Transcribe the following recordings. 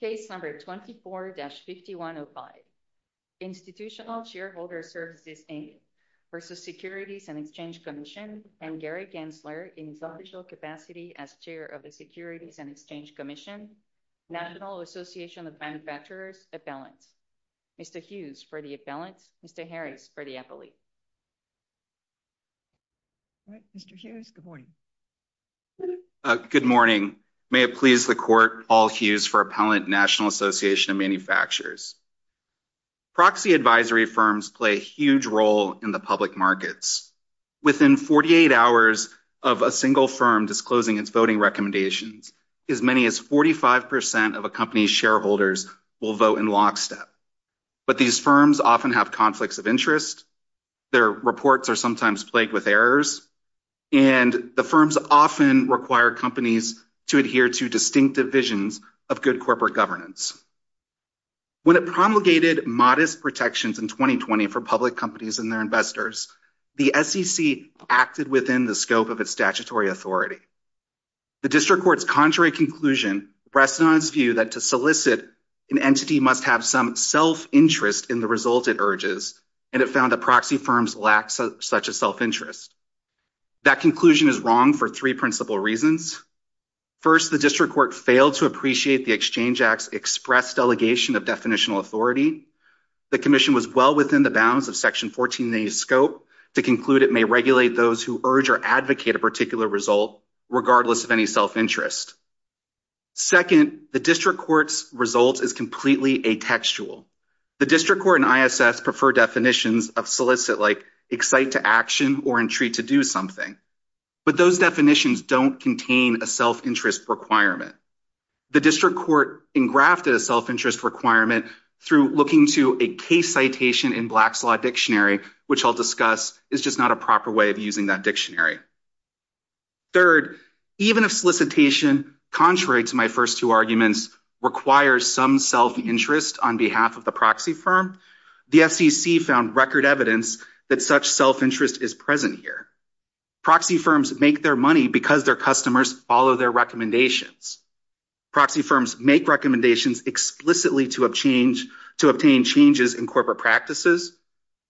Case number 24-5105, Institutional Shareholder Services, Inc. v. Securities and Exchange Commission and Gary Gensler in his official capacity as Chair of the Securities and Exchange Commission, National Association of Manufacturers, Appellants. Mr. Hughes for the Appellants, Mr. Harris for the Appellate. All right, Mr. Hughes, good morning. Good morning. May it please the Paul Hughes for Appellant, National Association of Manufacturers. Proxy advisory firms play a huge role in the public markets. Within 48 hours of a single firm disclosing its voting recommendations, as many as 45 percent of a company's shareholders will vote in lockstep. But these firms often have conflicts of interest, their reports are good corporate governance. When it promulgated modest protections in 2020 for public companies and their investors, the SEC acted within the scope of its statutory authority. The District Court's contrary conclusion rests on its view that to solicit an entity must have some self-interest in the result it urges, and it found that proxy firms lack such a self-interest. That conclusion is wrong for three principal reasons. First, the District Court failed to appreciate the Exchange Act's express delegation of definitional authority. The Commission was well within the bounds of Section 14A's scope to conclude it may regulate those who urge or advocate a particular result regardless of any self-interest. Second, the District Court's result is completely atextual. The District Court and ISS prefer definitions of solicit like excite to action or entreat to do something, but those definitions don't contain a self-interest requirement. The District Court engrafted a self-interest requirement through looking to a case citation in Black's Law Dictionary, which I'll discuss is just not a proper way of using that dictionary. Third, even if solicitation, contrary to my first two arguments, requires some self-interest on behalf of the proxy firm, the FCC found record evidence that such self-interest is present here. Proxy firms make their money because their customers follow their recommendations. Proxy firms make recommendations explicitly to obtain changes in corporate practices,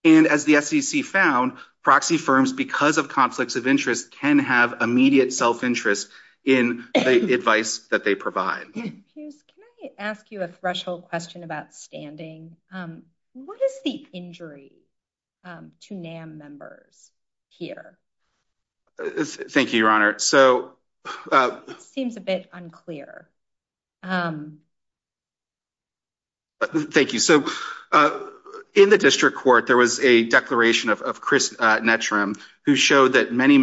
and as the FCC found, proxy firms, because of conflicts of interest, can have immediate self-interest in the advice that they provide. Can I ask you a threshold question about standing? What is the injury to NAM members here? Thank you, Your Honor. It seems a bit unclear. Thank you. So in the District Court, there was a declaration of Chris Netram who showed that many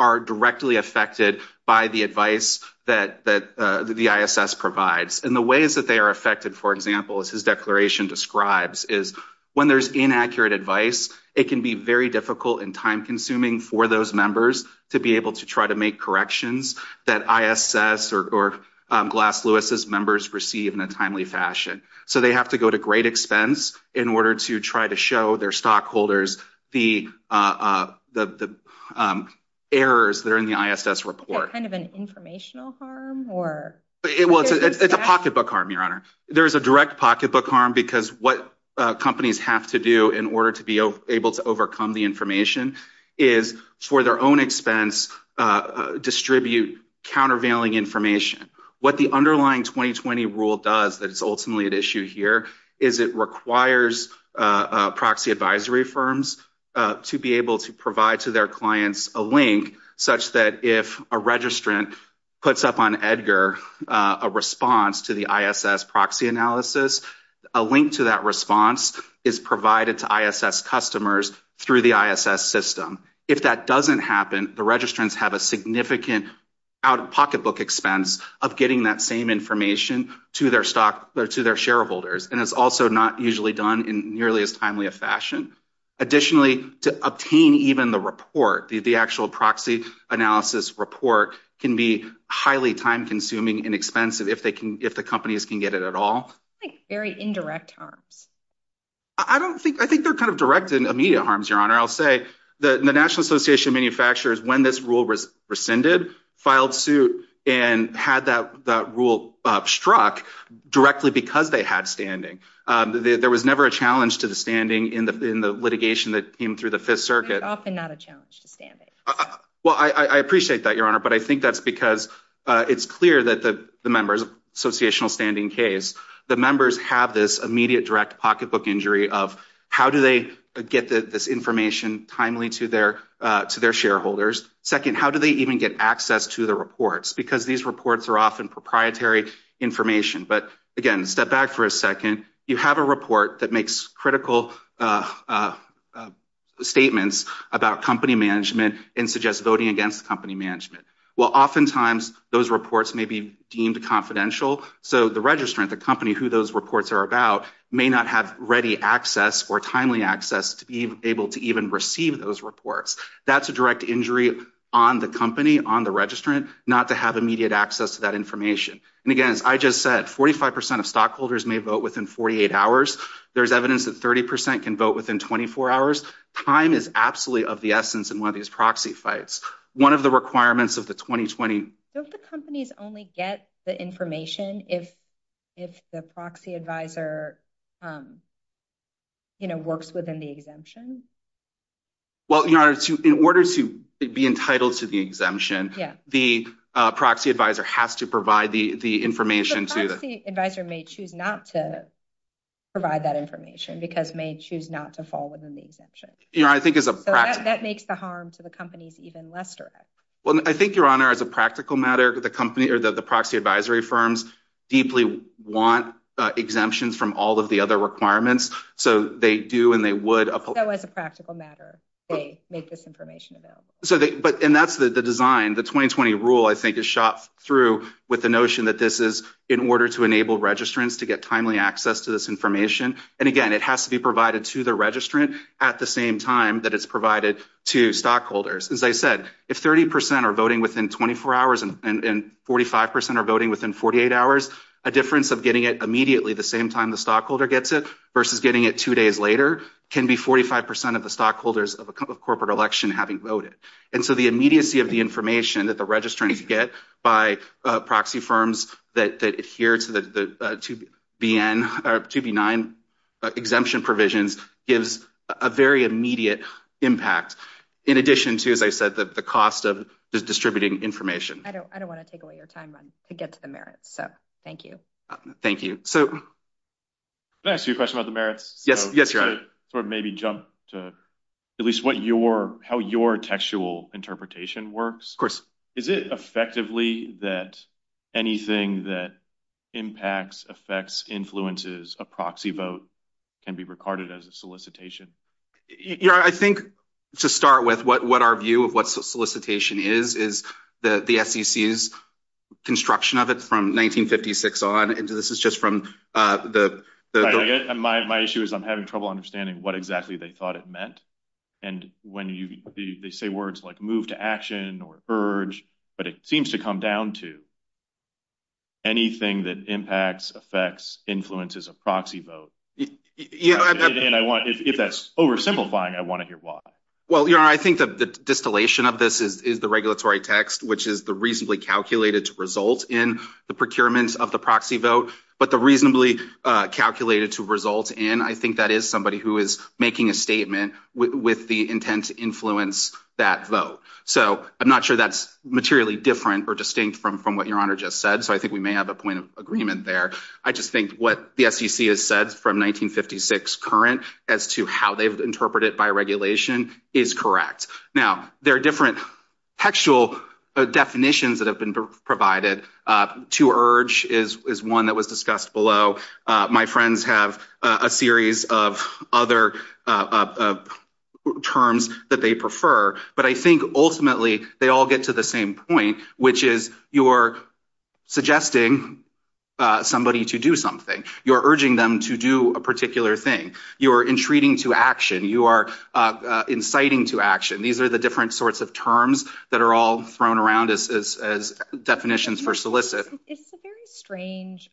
are directly affected by the advice that the ISS provides. And the ways that they are affected, for example, as his declaration describes, is when there's inaccurate advice, it can be very difficult and time-consuming for those members to be able to try to make corrections that ISS or Glass-Lewis's members receive in a timely fashion. So they have to go to great expense in order to try to show their stockholders the errors that are in the ISS report. Is that kind of an informational harm? It's a pocketbook harm, Your Honor. There is a direct pocketbook harm because what companies have to do in order to be able to overcome the information is, for their own expense, distribute countervailing information. What the underlying 2020 rule does that is ultimately at issue here is it requires proxy advisory firms to be able to provide to their clients a link such that if a registrant puts up on EDGAR a response to the ISS proxy analysis, a link to that response is provided to ISS customers through the ISS system. If that doesn't happen, the registrants have a significant out-of-pocketbook expense of getting that same information to their shareholders, and it's also not usually done in nearly as timely a fashion. Additionally, to obtain even the report, the actual proxy analysis report, can be highly time-consuming and expensive if the companies can get it at all. I think very indirect harms. I think they're kind of direct and immediate harms, Your Honor. I'll say the National Association of Manufacturers, when this rule was rescinded, filed suit and had that rule struck directly because they had standing. There was never a challenge to the standing in the litigation that came through the Fifth Circuit. It's often not a challenge to standing. Well, I appreciate that, Your Honor, but I think that's because it's clear that the members, associational standing case, the members have this immediate direct pocketbook injury of how do they get this information timely to their shareholders? Second, how do they even get access to the reports? Because these reports are often proprietary information. But again, step back for a second. You have a report that makes critical statements about company management and suggests voting against the company management. Well, oftentimes those reports may be deemed confidential, so the registrant, the company who those reports are about, may not have ready access or timely access to be able to even receive those reports. That's a direct injury on the company, on the registrant, not to have immediate access to that information. And again, as I just said, 45% of stockholders may vote within 48 hours. There's evidence that 30% can vote within 24 hours. Time is absolutely of the essence in one of these proxy fights. One of the requirements of the 2020... Don't the companies only get the information if the proxy advisor works within the exemption? Well, Your Honor, in order to be entitled to the exemption, the proxy advisor has to provide the information to the... The proxy advisor may choose not to provide that information because may choose not to fall within the exemption. Your Honor, I think as a... So that makes the harm to the companies even less direct. Well, I think, Your Honor, as a practical matter, the company or the proxy advisory firms deeply want exemptions from all of the other requirements. So they do and they would... So as a practical matter, they make this information available. So they... And that's the design. The 2020 rule, I think, is shot through with the notion that this is in order to enable registrants to get timely access to this information. And again, it has to be provided to the registrant at the same time that it's provided to stockholders. As I said, if 30% are voting within 24 hours and 45% are voting within 48 hours, a difference of getting it immediately the same time the stockholder gets it versus getting it two days later can be 45% of the stockholders of a corporate election having voted. And so the immediacy of the information that the registrants get by proxy firms that adhere to the 2B9 exemption provisions gives a very immediate impact in addition to, as I said, the cost of distributing information. I don't want to take away your time to get to the merits. So thank you. Thank you. So... Yes, you're right. Sort of maybe jump to at least how your textual interpretation works. Is it effectively that anything that impacts, affects, influences a proxy vote can be regarded as a solicitation? I think to start with, what our view of what solicitation is, is the SEC's construction of it from 1956 on. And this is just from the... And my issue is I'm having trouble understanding what exactly they thought it meant. And when they say words like move to action or urge, but it seems to come down to anything that impacts, affects, influences a proxy vote. And if that's oversimplifying, I want to hear why. Well, I think that the distillation of this is the regulatory text, which is the reasonably calculated to result in. I think that is somebody who is making a statement with the intent to influence that vote. So I'm not sure that's materially different or distinct from what your honor just said. So I think we may have a point of agreement there. I just think what the SEC has said from 1956 current, as to how they've interpreted it by regulation, is correct. Now, there are different textual definitions that have been provided. To urge is one that was discussed below. My friends have a series of other terms that they prefer, but I think ultimately they all get to the same point, which is you're suggesting somebody to do something. You're urging them to do a particular thing. You are entreating to action. You are inciting to action. These are the different sorts of terms that are all thrown around as definitions for solicit. It's a very strange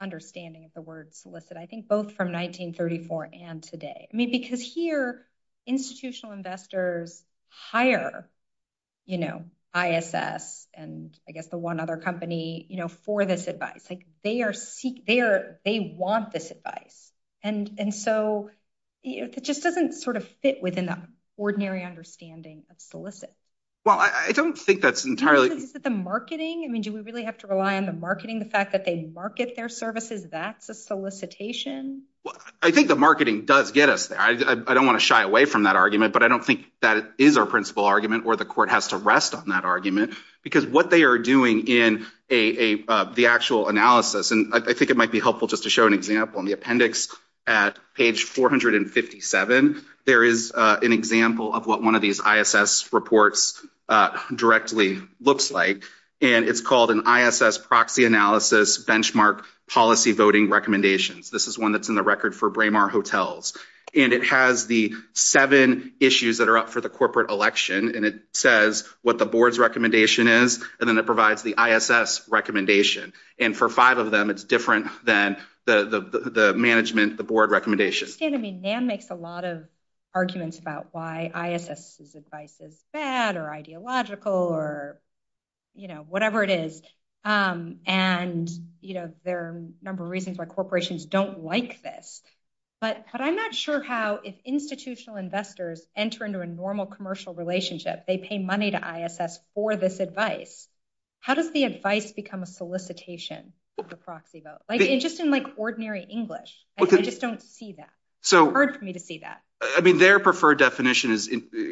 understanding of the word solicit. I think both from 1934 and today. I mean, because here, institutional investors hire, you know, ISS and I guess the one other company, you know, for this advice. They want this advice. And so it just doesn't sort of fit within the ordinary understanding of solicit. Well, I don't think that's entirely... Is it the marketing? I mean, do we really have to rely on the marketing? The fact that they market their services, that's a solicitation? I think the marketing does get us there. I don't want to shy away from that argument, but I don't think that is our principal argument or the court has to rest on that argument because what they are doing in the actual analysis, and I think it might be helpful just to show an example. In the appendix at page 457, there is an example of what one of these ISS reports directly looks like, and it's called an ISS Proxy Analysis Benchmark Policy Voting Recommendations. This is one that's in the record for Braemar Hotels, and it has the seven issues that are up for the corporate election, and it says what the board's recommendation is, and then it provides the ISS recommendation. And for five of them, it's different than the management, the board recommendation. I understand. I mean, NAM makes a lot of arguments about why ISS's advice is bad or ideological or whatever it is, and there are a number of reasons why corporations don't like this, but I'm not sure how if institutional investors enter into a normal commercial relationship, they pay money to ISS for this advice. How does the advice become a solicitation for proxy vote? Like, just in, like, ordinary English. I just don't see that. It's hard for me to see that. I mean, their preferred definition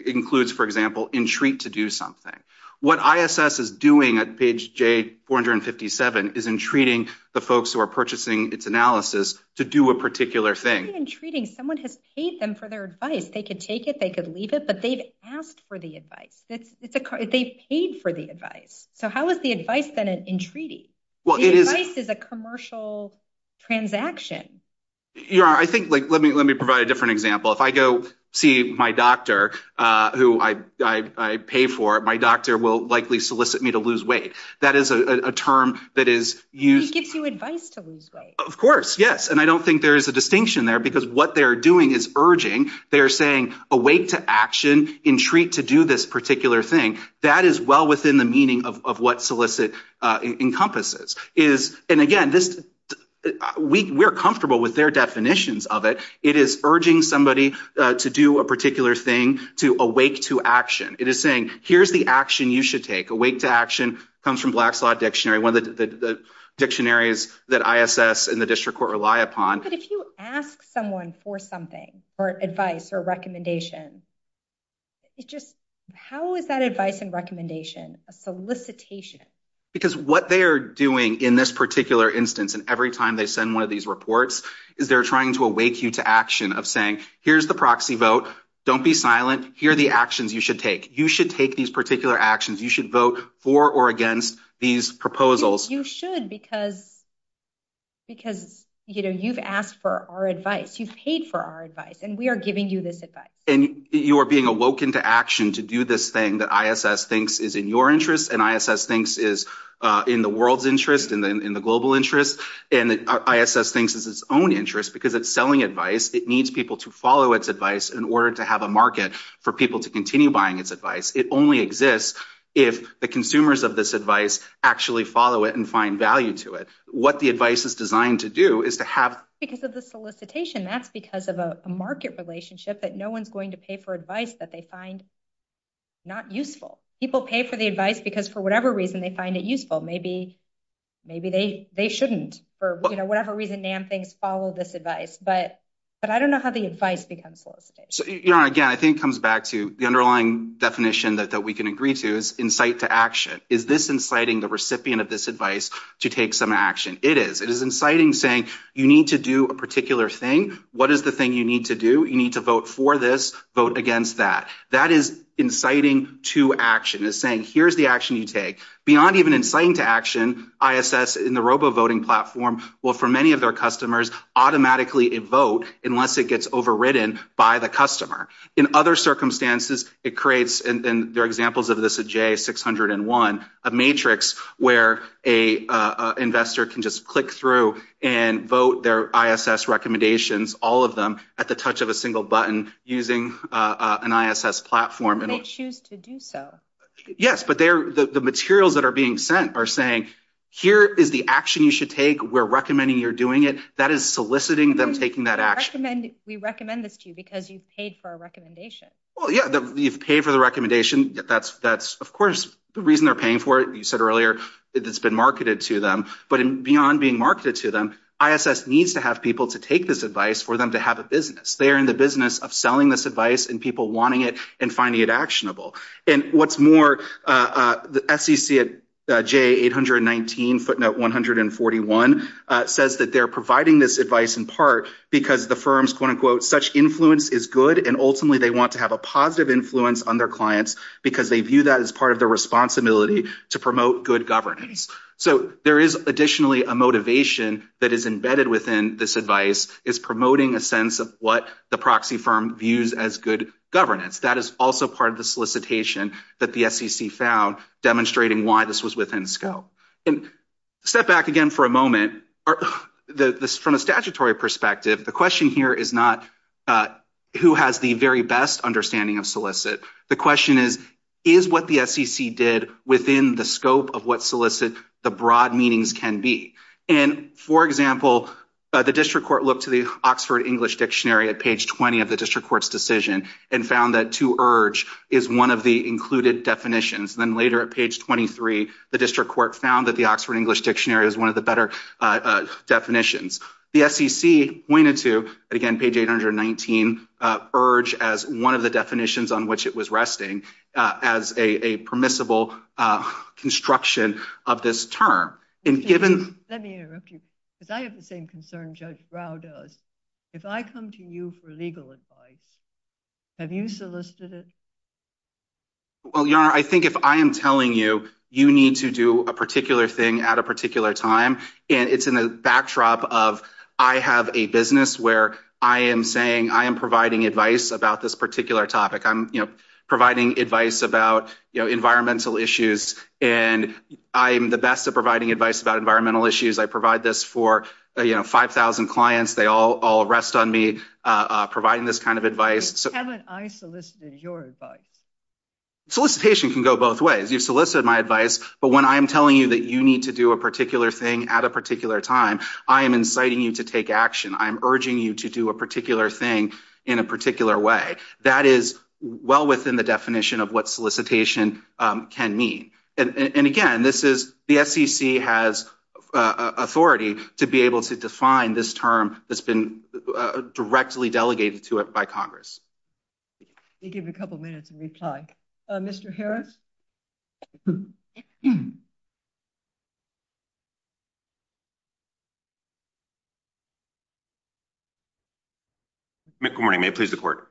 includes, for example, entreat to do something. What ISS is doing at page 457 is entreating the folks who are purchasing its analysis to do a particular thing. It's not even entreating. Someone has paid them for their advice. They could take it, they could leave it, but they've asked for the advice. They paid for the advice. So how is the advice then an entreaty? Well, it is a commercial transaction. You're right. I think, like, let me provide a different example. If I go see my doctor who I pay for, my doctor will likely solicit me to lose weight. That is a term that is used. He gives you advice to lose weight. Of course, yes. And I don't think there is a distinction there because what they're doing is urging. They're saying, awake to action, entreat to do this particular thing. That is well within the meaning of what solicit encompasses. And again, we're comfortable with their definitions of it. It is urging somebody to do a particular thing, to awake to action. It is saying, here's the action you should take. Awake to action comes from Blackslaw Dictionary, one of the dictionaries that ISS and the district court rely upon. But if you ask someone for something, or advice or recommendation, how is that advice and recommendation a solicitation? Because what they're doing in this particular instance and every time they send one of these reports is they're trying to awake you to action of saying, here's the proxy vote. Don't be silent. Here are the actions you should take. You should take these particular actions. You should vote for or against these proposals. You should because you've asked for our advice. You've paid for our advice. And we are giving you this advice. And you are being awoken to action to do this thing that ISS thinks is in your interest, and ISS thinks is in the world's interest, and in the global interest. And ISS thinks it's its own interest because it's selling advice. It needs people to follow its advice in order to have a market for people to continue buying its advice. It only exists if the consumers of this advice actually follow it and find value to it. What the advice is designed to do is to have- Because of the solicitation, that's because of a market relationship that no one's going to pay for advice that they find not useful. People pay for the advice because for whatever reason they find it useful. Maybe they shouldn't. For whatever reason, NAM thinks, follow this advice. But I don't know how the advice becomes solicitation. Again, I think it comes back to the underlying definition that we can agree to is insight to action. Is this inciting the recipient of this advice to take some action? It is. It is inciting saying, you need to do a particular thing. What is the thing you need to do? You need to vote for this. Vote against that. That is inciting to action. It's saying, here's the action you take. Beyond even inciting to action, ISS in the robo-voting platform will, for many of their customers, automatically vote unless it gets overridden by the customer. In other circumstances, it creates- a matrix where an investor can just click through and vote their ISS recommendations, all of them, at the touch of a single button using an ISS platform. And they choose to do so. Yes. But the materials that are being sent are saying, here is the action you should take. We're recommending you're doing it. That is soliciting them taking that action. We recommend this to you because you've paid for our recommendation. Well, yeah. You've paid for the recommendation. That's, of course, the reason they're paying for it. You said earlier, it's been marketed to them. But beyond being marketed to them, ISS needs to have people to take this advice for them to have a business. They are in the business of selling this advice and people wanting it and finding it actionable. And what's more, the SEC at J819, footnote 141, says that they're providing this advice in part because the firm's, quote unquote, such influence is good. And ultimately, they want to have a positive influence on their clients because they view that as part of their responsibility to promote good governance. So there is additionally a motivation that is embedded within this advice. It's promoting a sense of what the proxy firm views as good governance. That is also part of the solicitation that the SEC found demonstrating why this was within scope. And step back again for a moment. From a statutory perspective, the question here is not who has the very best understanding of solicit. The question is, is what the SEC did within the scope of what solicit the broad meanings can be? And for example, the district court looked to the Oxford English Dictionary at page 20 of the district court's decision and found that to urge is one of the included definitions. Then later at page 23, the district court found that the Oxford English Dictionary is one of the better definitions. The SEC pointed to, again, page 819 urge as one of the definitions on which it was resting as a permissible construction of this term. And given- Let me interrupt you because I have the same concern Judge Rao does. If I come to you for legal advice, have you solicited it? Well, Your Honor, I think if I am telling you, you need to do a particular thing at a particular time. And it's in the backdrop of I have a business where I am saying I am providing advice about this particular topic. I'm providing advice about environmental issues. And I am the best at providing advice about environmental issues. I provide this for 5,000 clients. They all rest on me providing this kind of advice. Haven't I solicited your advice? Solicitation can go both ways. You've solicited my advice. But when I'm telling you that you need to do a particular thing at a particular time, I am inciting you to take action. I'm urging you to do a particular thing in a particular way. That is well within the definition of what solicitation can mean. And again, the SEC has authority to be able to define this term that's been directly delegated to it by Congress. We'll give you a couple minutes to reply. Mr. Harris? Good morning. May it please the court.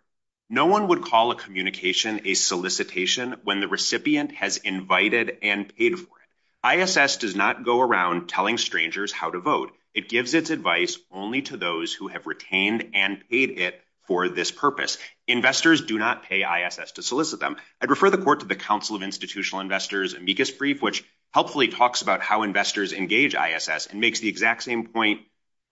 No one would call a communication a solicitation when the recipient has invited and paid for it. ISS does not go around telling strangers how to vote. It gives its advice only to those who have retained and paid it for this purpose. Investors do not pay ISS to solicit them. I'd refer the court to the Council of Institutional Investors' amicus brief, which helpfully talks about how we investors engage ISS and makes the exact same point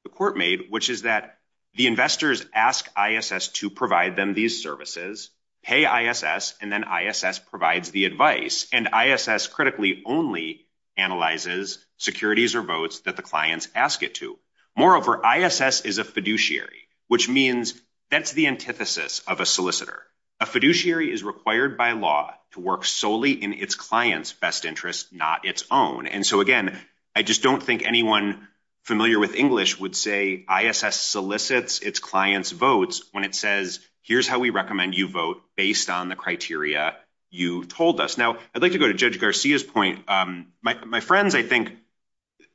the court made, which is that the investors ask ISS to provide them these services, pay ISS, and then ISS provides the advice. And ISS critically only analyzes securities or votes that the clients ask it to. Moreover, ISS is a fiduciary, which means that's the antithesis of a solicitor. A fiduciary is required by law to work solely in its client's best interest, not its own. And so again, I just don't think anyone familiar with English would say ISS solicits its client's votes when it says, here's how we recommend you vote based on the criteria you told us. Now, I'd like to go to Judge Garcia's point. My friends, I think,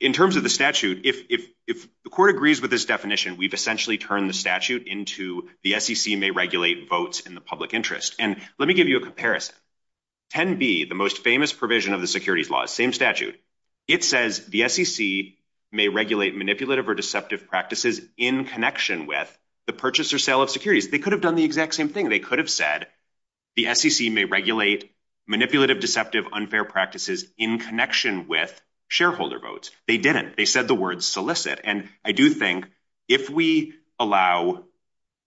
in terms of the statute, if the court agrees with this definition, we've essentially turned the statute into the SEC may regulate votes in the public interest. And let me give you a comparison. 10b, the most famous provision of the securities law, same statute, it says the SEC may regulate manipulative or deceptive practices in connection with the purchase or sale of securities. They could have done the exact same thing. They could have said the SEC may regulate manipulative, deceptive, unfair practices in connection with shareholder votes. They didn't. They said the word solicit. And I do think if we allow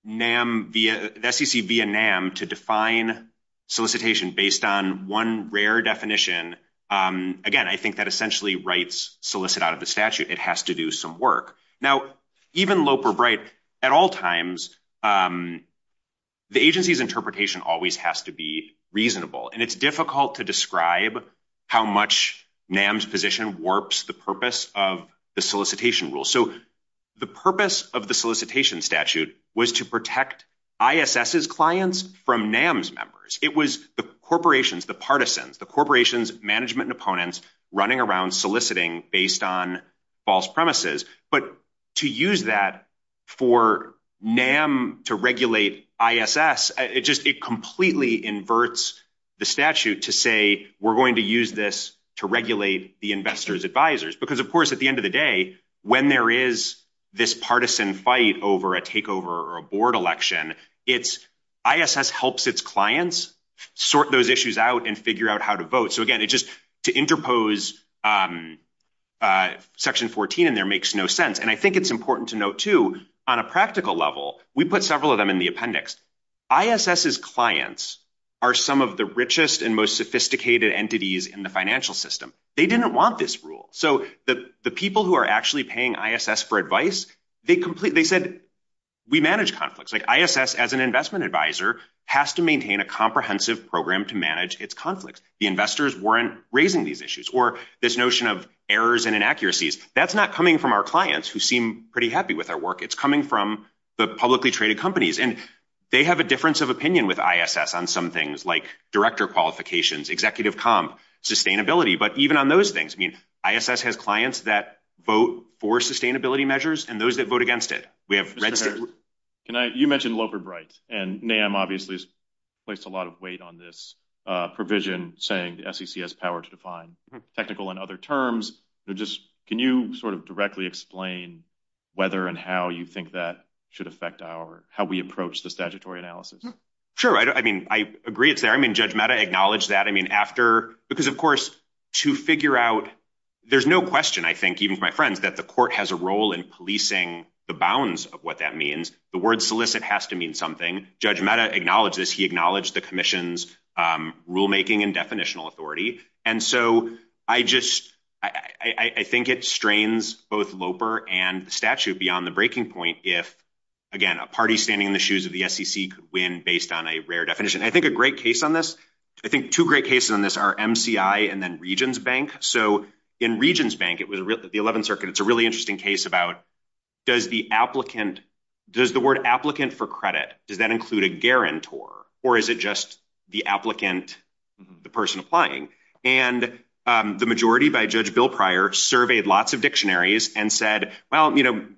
the SEC via NAM to define solicitation based on one rare definition, again, I think that essentially writes solicit out of the statute. It has to do some work. Now, even Loeb or Bright, at all times, the agency's interpretation always has to be reasonable. And it's difficult to describe how much NAM's position warps the purpose of the solicitation rule. So the purpose of the solicitation statute was to protect ISS's clients from NAM's members. It was the corporations, the partisans, the corporations, management, and opponents running around soliciting based on false premises. But to use that for NAM to regulate ISS, it just completely inverts the statute to say, we're going to use this to regulate the investors' advisors. Because of course, at the end of the day, when there is this partisan fight over a takeover or a board election, ISS helps its clients sort those issues out and figure out how to vote. So again, just to interpose Section 14 in there makes no sense. And I think it's important to note, too, on a practical level, we put several of them in the appendix. ISS's clients are some of the richest and most sophisticated entities in the financial system. They didn't want this rule. So the people who are actually paying ISS for advice, they said, we manage conflicts. ISS, as an investment advisor, has to maintain a comprehensive program to manage its conflicts. The investors weren't raising these issues or this notion of errors and inaccuracies. That's not coming from our clients, who seem pretty happy with our work. It's coming from the publicly traded companies. And they have a difference of opinion with ISS on some things like director qualifications, executive comm, sustainability. But even on those things, I mean, ISS has clients that vote for sustainability measures and those that vote against it. We have red states. You mentioned Loper Bright. And NAM, obviously, has placed a lot of weight on this provision saying the SEC has power to define technical and other terms. Can you sort of directly explain whether and how you think that should affect how we approach the statutory analysis? Sure. I mean, I agree it's there. I mean, Judge Mehta acknowledged that. I mean, after, because of course, to figure out, there's no question, I think, even for my friends, that the court has a role in policing the bounds of what that means. The word solicit has to mean something. Judge Mehta acknowledged this. He acknowledged the commission's rulemaking and definitional authority. And so I just, I think it strains both Loper and the statute beyond the breaking point. If, again, a party standing in the shoes of the SEC could win based on a rare definition. I think a great case on this, I think two great cases on this are MCI and then Regions Bank. So in Regions Bank, it was the 11th Circuit. It's a really interesting case about does the applicant, does the word applicant for credit, does that include a guarantor or is it just the applicant, the person applying? And the majority by Judge Bill Pryor surveyed lots of dictionaries and said, well,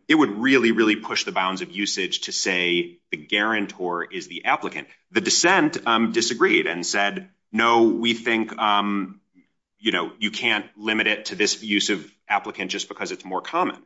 it would really, really push the bounds of usage to say the guarantor is the applicant. The dissent disagreed and said, no, we think you can't limit it to this use of applicant just because it's more common.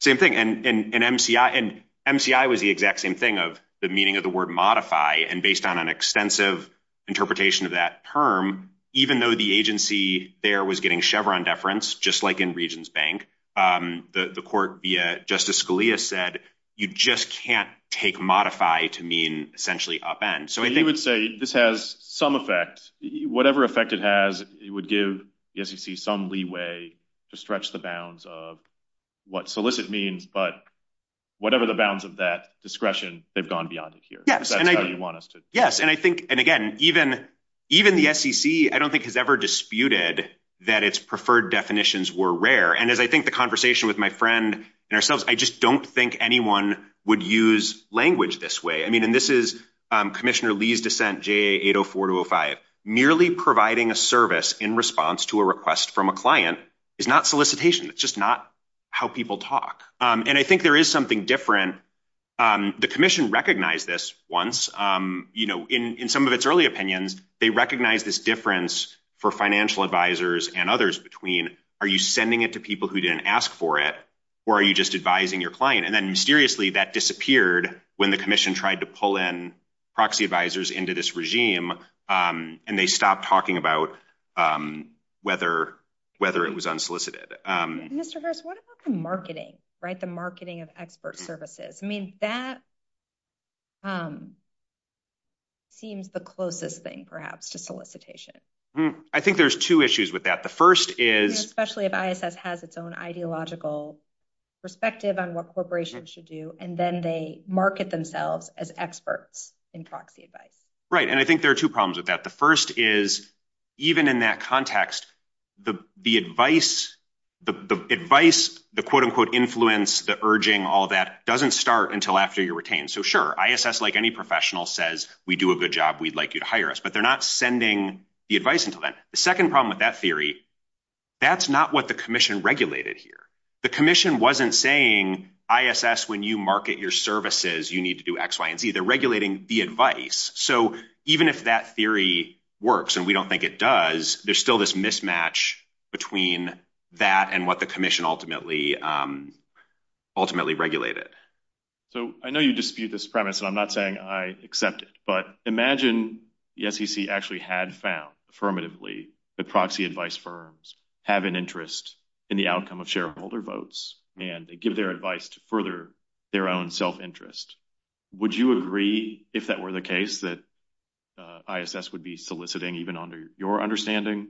Same thing, and MCI was the exact same thing of the meaning of the word modify and based on an extensive interpretation of that term, even though the agency there was getting Chevron deference, just like in Regions Bank, the court via Justice Scalia said, you just can't take modify to mean essentially upend. You would say this has some effect, whatever effect it has, it would give the SEC some leeway to stretch the bounds of what solicit means, but whatever the bounds of that discretion, they've gone beyond it here. Yes, and again, even the SEC, I don't think has ever disputed that its preferred definitions were rare. And as I think the conversation with my friend and ourselves, I just don't think anyone would use language this way. I mean, and this is Commissioner Lee's dissent, JA 804 to 05, merely providing a service in response to a request from a client is not solicitation. It's just not how people talk. And I think there is something different. The commission recognized this once, in some of its early opinions, they recognize this difference for financial advisors and others between, are you sending it to people who didn't ask for it? Or are you just advising your client? And then mysteriously that disappeared when the commission tried to pull in proxy advisors into this regime, and they stopped talking about whether it was unsolicited. Mr. Harris, what about the marketing, right? The marketing of expert services? I mean, that seems the closest thing perhaps to solicitation. I think there's two issues with that. The first is- Especially if ISS has its own ideological perspective on what corporations should do, and then they market themselves as experts in proxy advice. Right, and I think there are two problems with that. The first is, even in that context, the advice, the quote unquote influence, the urging, all that doesn't start until after you're retained. So sure, ISS, like any professional says, we do a good job, we'd like you to hire us, but they're not sending the advice until then. The second problem with that theory, that's not what the commission regulated here. The commission wasn't saying, ISS, when you market your services, you need to do X, Y, and Z. They're regulating the advice. So even if that theory works, and we don't think it does, there's still this mismatch between that and what the commission ultimately regulated. So I know you dispute this premise, and I'm not saying I accept it, but imagine the SEC actually had found, affirmatively, that proxy advice firms have an interest in the outcome of shareholder votes, and they give their advice to further their own self-interest. Would you agree, if that were the case, that ISS would be soliciting, even under your understanding,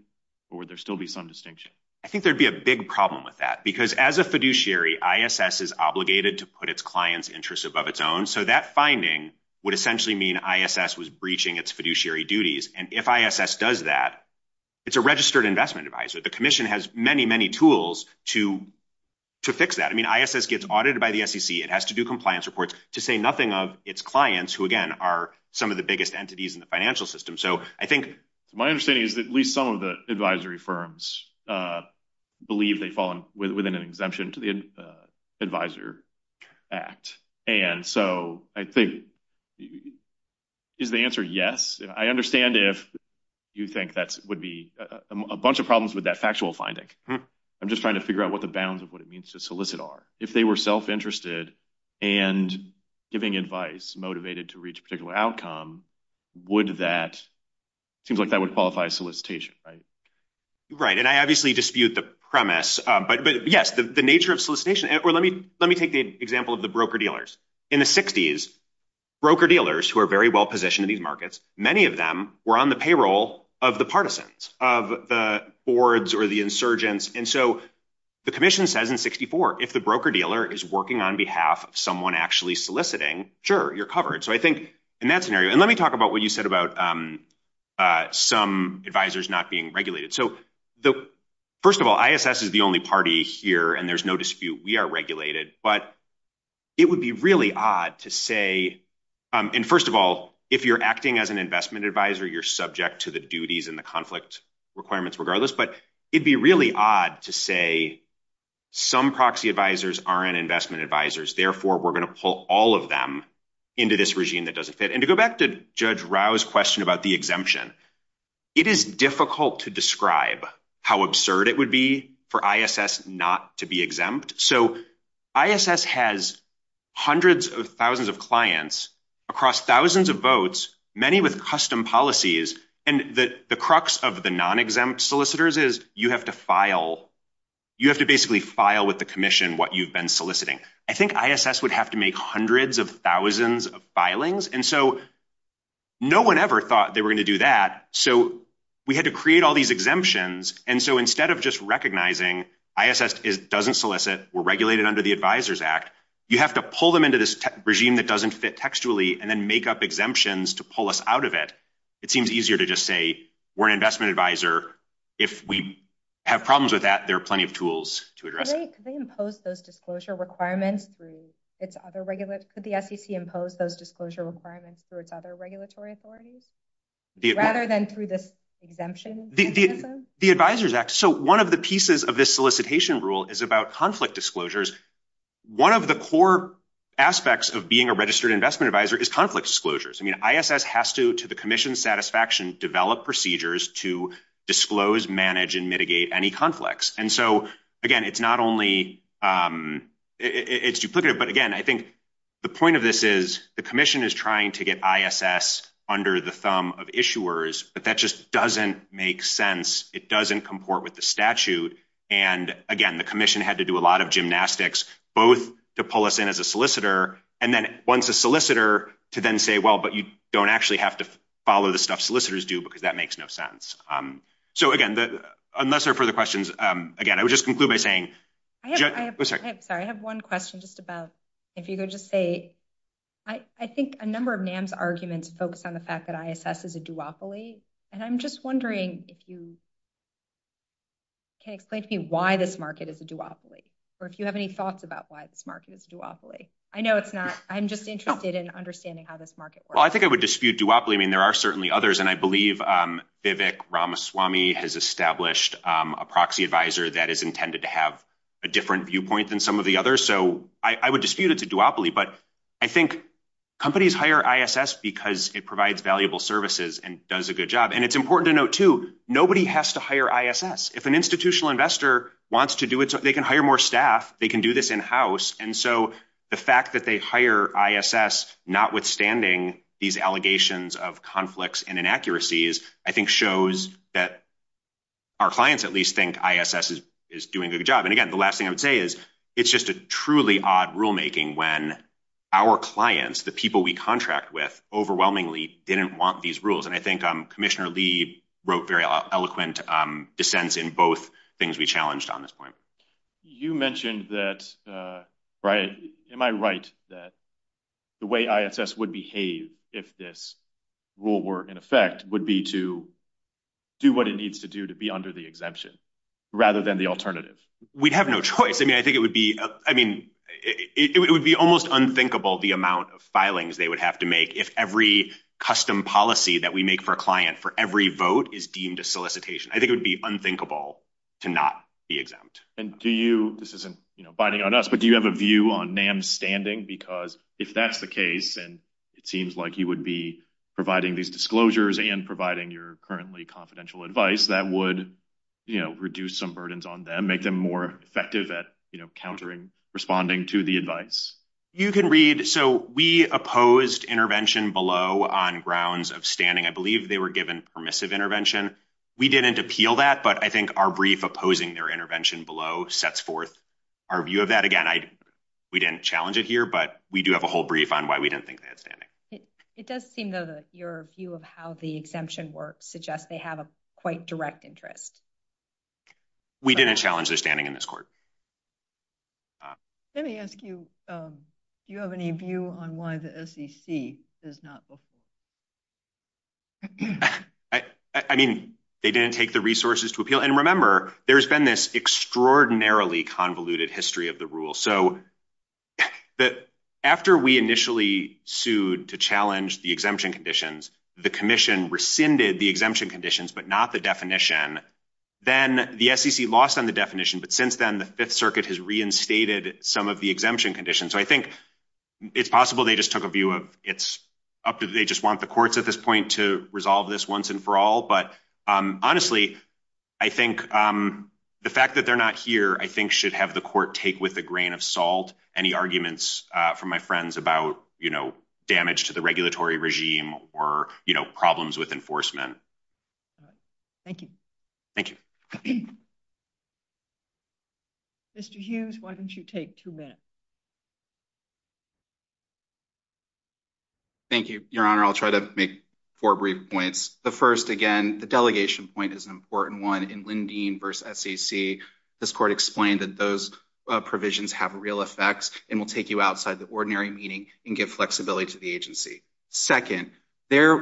or would there still be some distinction? I think there'd be a big problem with that, because as a fiduciary, ISS is obligated to put its clients' interests above its own. So that finding would essentially mean ISS was breaching its fiduciary duties. And if ISS does that, it's a registered investment advisor. The commission has many, many tools to fix that. I mean, ISS gets audited by the SEC. It has to do compliance reports to say nothing of its clients, who, again, are some of the biggest entities in the financial system. So I think... My understanding is that at least some of the advisory firms believe they've fallen within an exemption to the Advisor Act. And so I think, is the answer yes? I understand if you think that would be a bunch of problems with that factual finding. I'm just trying to figure out what the bounds of what it means to solicit are. If they were self-interested and giving advice motivated to reach a particular outcome, would that... It seems like that would qualify as solicitation, right? Right. And I obviously dispute the premise. But yes, the nature of solicitation... Or let me take the example of the broker-dealers. In the 60s, broker-dealers, who are very well positioned in these markets, many of them were on the payroll of the partisans, of the boards or the insurgents. And so the commission says in 64, if the broker-dealer is working on behalf of someone actually soliciting, sure, you're covered. So I think in that scenario... And let me talk about what you said about some advisors not being regulated. So first of all, ISS is the only party here and there's no dispute. We are regulated. But it would be really odd to say... And first of all, if you're acting as an investment advisor, you're subject to the duties and the conflict requirements regardless. But it'd be really odd to say, some proxy advisors aren't investment advisors. Therefore, we're going to pull all of them into this regime that doesn't fit. And to go back to Judge Rao's question about the exemption, it is difficult to describe how absurd it would be for ISS not to be exempt. So ISS has hundreds of thousands of clients across thousands of votes, many with custom policies. And the crux of the non-exempt solicitors is you have to file. You have to basically file with the commission what you've been soliciting. I think ISS would have to make hundreds of thousands of filings. And so no one ever thought they were going to do that. So we had to create all these exemptions. And so instead of just recognizing ISS doesn't solicit, we're regulated under the Advisors Act, you have to pull them into this regime that doesn't fit textually and then make up exemptions to pull us out of it. It seems easier to just say, we're an investment advisor. If we have problems with that, there are plenty of tools to address it. Could they impose those disclosure requirements through its other regular... Could the SEC impose those disclosure requirements through its other regulatory authorities? Rather than through this exemption mechanism? The Advisors Act. So one of the pieces of this solicitation rule is about conflict disclosures. One of the core aspects of being a registered investment advisor is conflict disclosures. ISS has to, to the commission's satisfaction, develop procedures to disclose, manage, and mitigate any conflicts. And so again, it's not only... It's duplicative. But again, I think the point of this is the commission is trying to get ISS under the thumb of issuers, but that just doesn't make sense. It doesn't comport with the statute. And again, the commission had to do a lot of gymnastics, both to pull us in as a solicitor. And then once a solicitor to then say, well, but you don't actually have to follow the stuff solicitors do, because that makes no sense. So again, unless there are further questions, again, I would just conclude by saying... I'm sorry, I have one question just about... If you could just say... I think a number of NAM's arguments focus on the fact that ISS is a duopoly. And I'm just wondering if you can explain to me why this market is a duopoly. Or if you have any thoughts about why this market is a duopoly. I know it's not. I'm just interested in understanding how this market works. Well, I think I would dispute duopoly. I mean, there are certainly others. And I believe Vivek Ramaswamy has established a proxy advisor that is intended to have a different viewpoint than some of the others. So I would dispute it's a duopoly. But I think companies hire ISS because it provides valuable services and does a good job. And it's important to note too, nobody has to hire ISS. If an institutional investor wants to do it, they can hire more staff. They can do this in-house. And so the fact that they hire ISS, notwithstanding these allegations of conflicts and inaccuracies, I think shows that our clients at least think ISS is doing a good job. And again, the last thing I would say is it's just a truly odd rulemaking when our clients, the people we contract with, overwhelmingly didn't want these rules. And I think Commissioner Lee wrote very eloquent dissents in both things we challenged on this point. You mentioned that, am I right that the way ISS would behave if this rule were in effect would be to do what it needs to do to be under the exemption rather than the alternative? We'd have no choice. I mean, I think it would be, I mean, it would be almost unthinkable the amount of filings they would have to make if every custom policy that we make for a client for every vote is deemed a solicitation. I think it would be unthinkable to not be exempt. This isn't biting on us, but do you have a view on NAM's standing? Because if that's the case, and it seems like you would be providing these disclosures and providing your currently confidential advice, that would reduce some burdens on them, make them more effective at countering, responding to the advice. You can read, so we opposed intervention below on grounds of standing. I believe they were given permissive intervention. We didn't appeal that, but I think our brief opposing their intervention below sets forth our view of that. Again, we didn't challenge it here, but we do have a whole brief on why we didn't think they had standing. It does seem, though, that your view of how the exemption works suggests they have a quite direct interest. We didn't challenge their standing in this court. Let me ask you, do you have any view on why the SEC does not vote for NAM? I mean, they didn't take the resources to appeal. And remember, there's been this extraordinarily convoluted history of the rule. So after we initially sued to challenge the exemption conditions, the commission rescinded the exemption conditions, but not the definition, then the SEC lost on the definition. But since then, the Fifth Circuit has reinstated some of the exemption conditions. So I think it's possible they just took a view of it's up to, they just want the courts at this point to resolve this once and for all. But honestly, I think the fact that they're not here, I think should have the court take with a grain of salt any arguments from my friends about damage to the regulatory regime or problems with enforcement. Thank you. Thank you. Mr. Hughes, why don't you take two minutes? Thank you, Your Honor. I'll try to make four brief points. The first, again, the delegation point is an important one. In Lindeen v. SEC, this court explained that those provisions have real effects and will take you outside the ordinary meeting and give flexibility to the agency. Second, their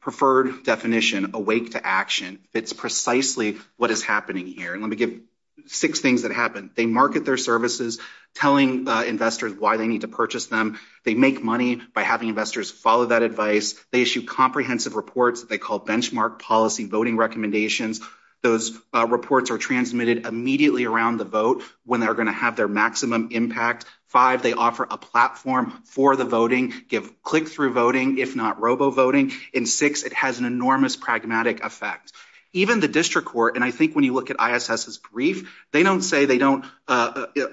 preferred definition, a wake to action, fits precisely what is happening here. And let me give six things that happened. They market their services, telling investors why they need to purchase them. They make money by having investors follow that advice. They issue comprehensive reports that they call benchmark policy voting recommendations. Those reports are transmitted immediately around the vote when they're going to have their maximum impact. Five, they offer a platform for the voting, give click-through voting, if not robo-voting. And six, it has an enormous pragmatic effect. Even the district court, and I think when you look at ISS's brief, they don't say they don't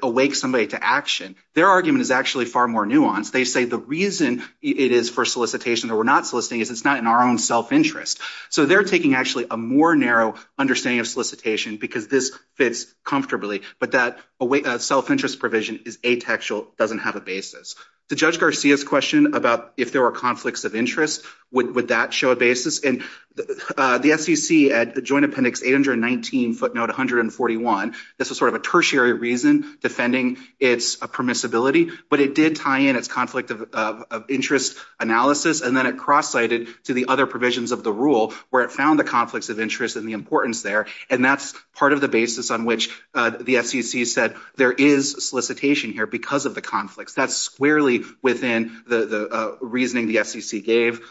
awake somebody to action. Their argument is actually far more nuanced. They say the reason it is for solicitation that we're not soliciting is it's not in our own self-interest. So they're taking actually a more narrow understanding of solicitation because this fits comfortably, but that self-interest provision is ataxial, doesn't have a basis. To Judge Garcia's question about if there were conflicts of interest, would that show a basis? And the SEC at joint appendix 819 footnote 141, this was sort of a tertiary reason defending its permissibility, but it did tie in its conflict of interest analysis. And then it cross-sited to the other provisions of the rule where it found the conflicts of interest and the importance there. And that's part of the basis on which the SEC said there is solicitation here because of the conflicts. That's squarely within the reasoning the SEC gave.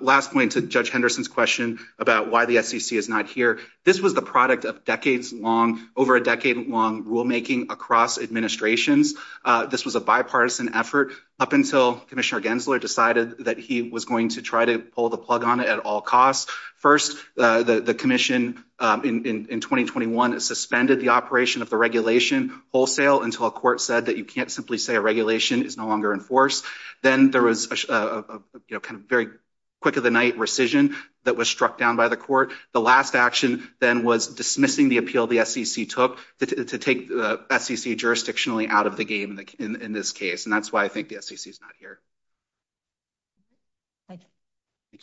Last point to Judge Henderson's question about why the SEC is not here. This was the product of decades long, over a decade long rulemaking across administrations. This was a bipartisan effort up until Commissioner Gensler decided that he was going to try to pull the plug on it at all costs. First, the commission in 2021 suspended the operation of the regulation wholesale until a court said that you can't simply say a regulation is no longer enforced. Then there was a kind of very quick of the night rescission that was struck down by the court. The last action then was dismissing the appeal the SEC took to take the SEC jurisdictionally out of the game in this case. And that's why I think the SEC is not here. Thank you. Thank you.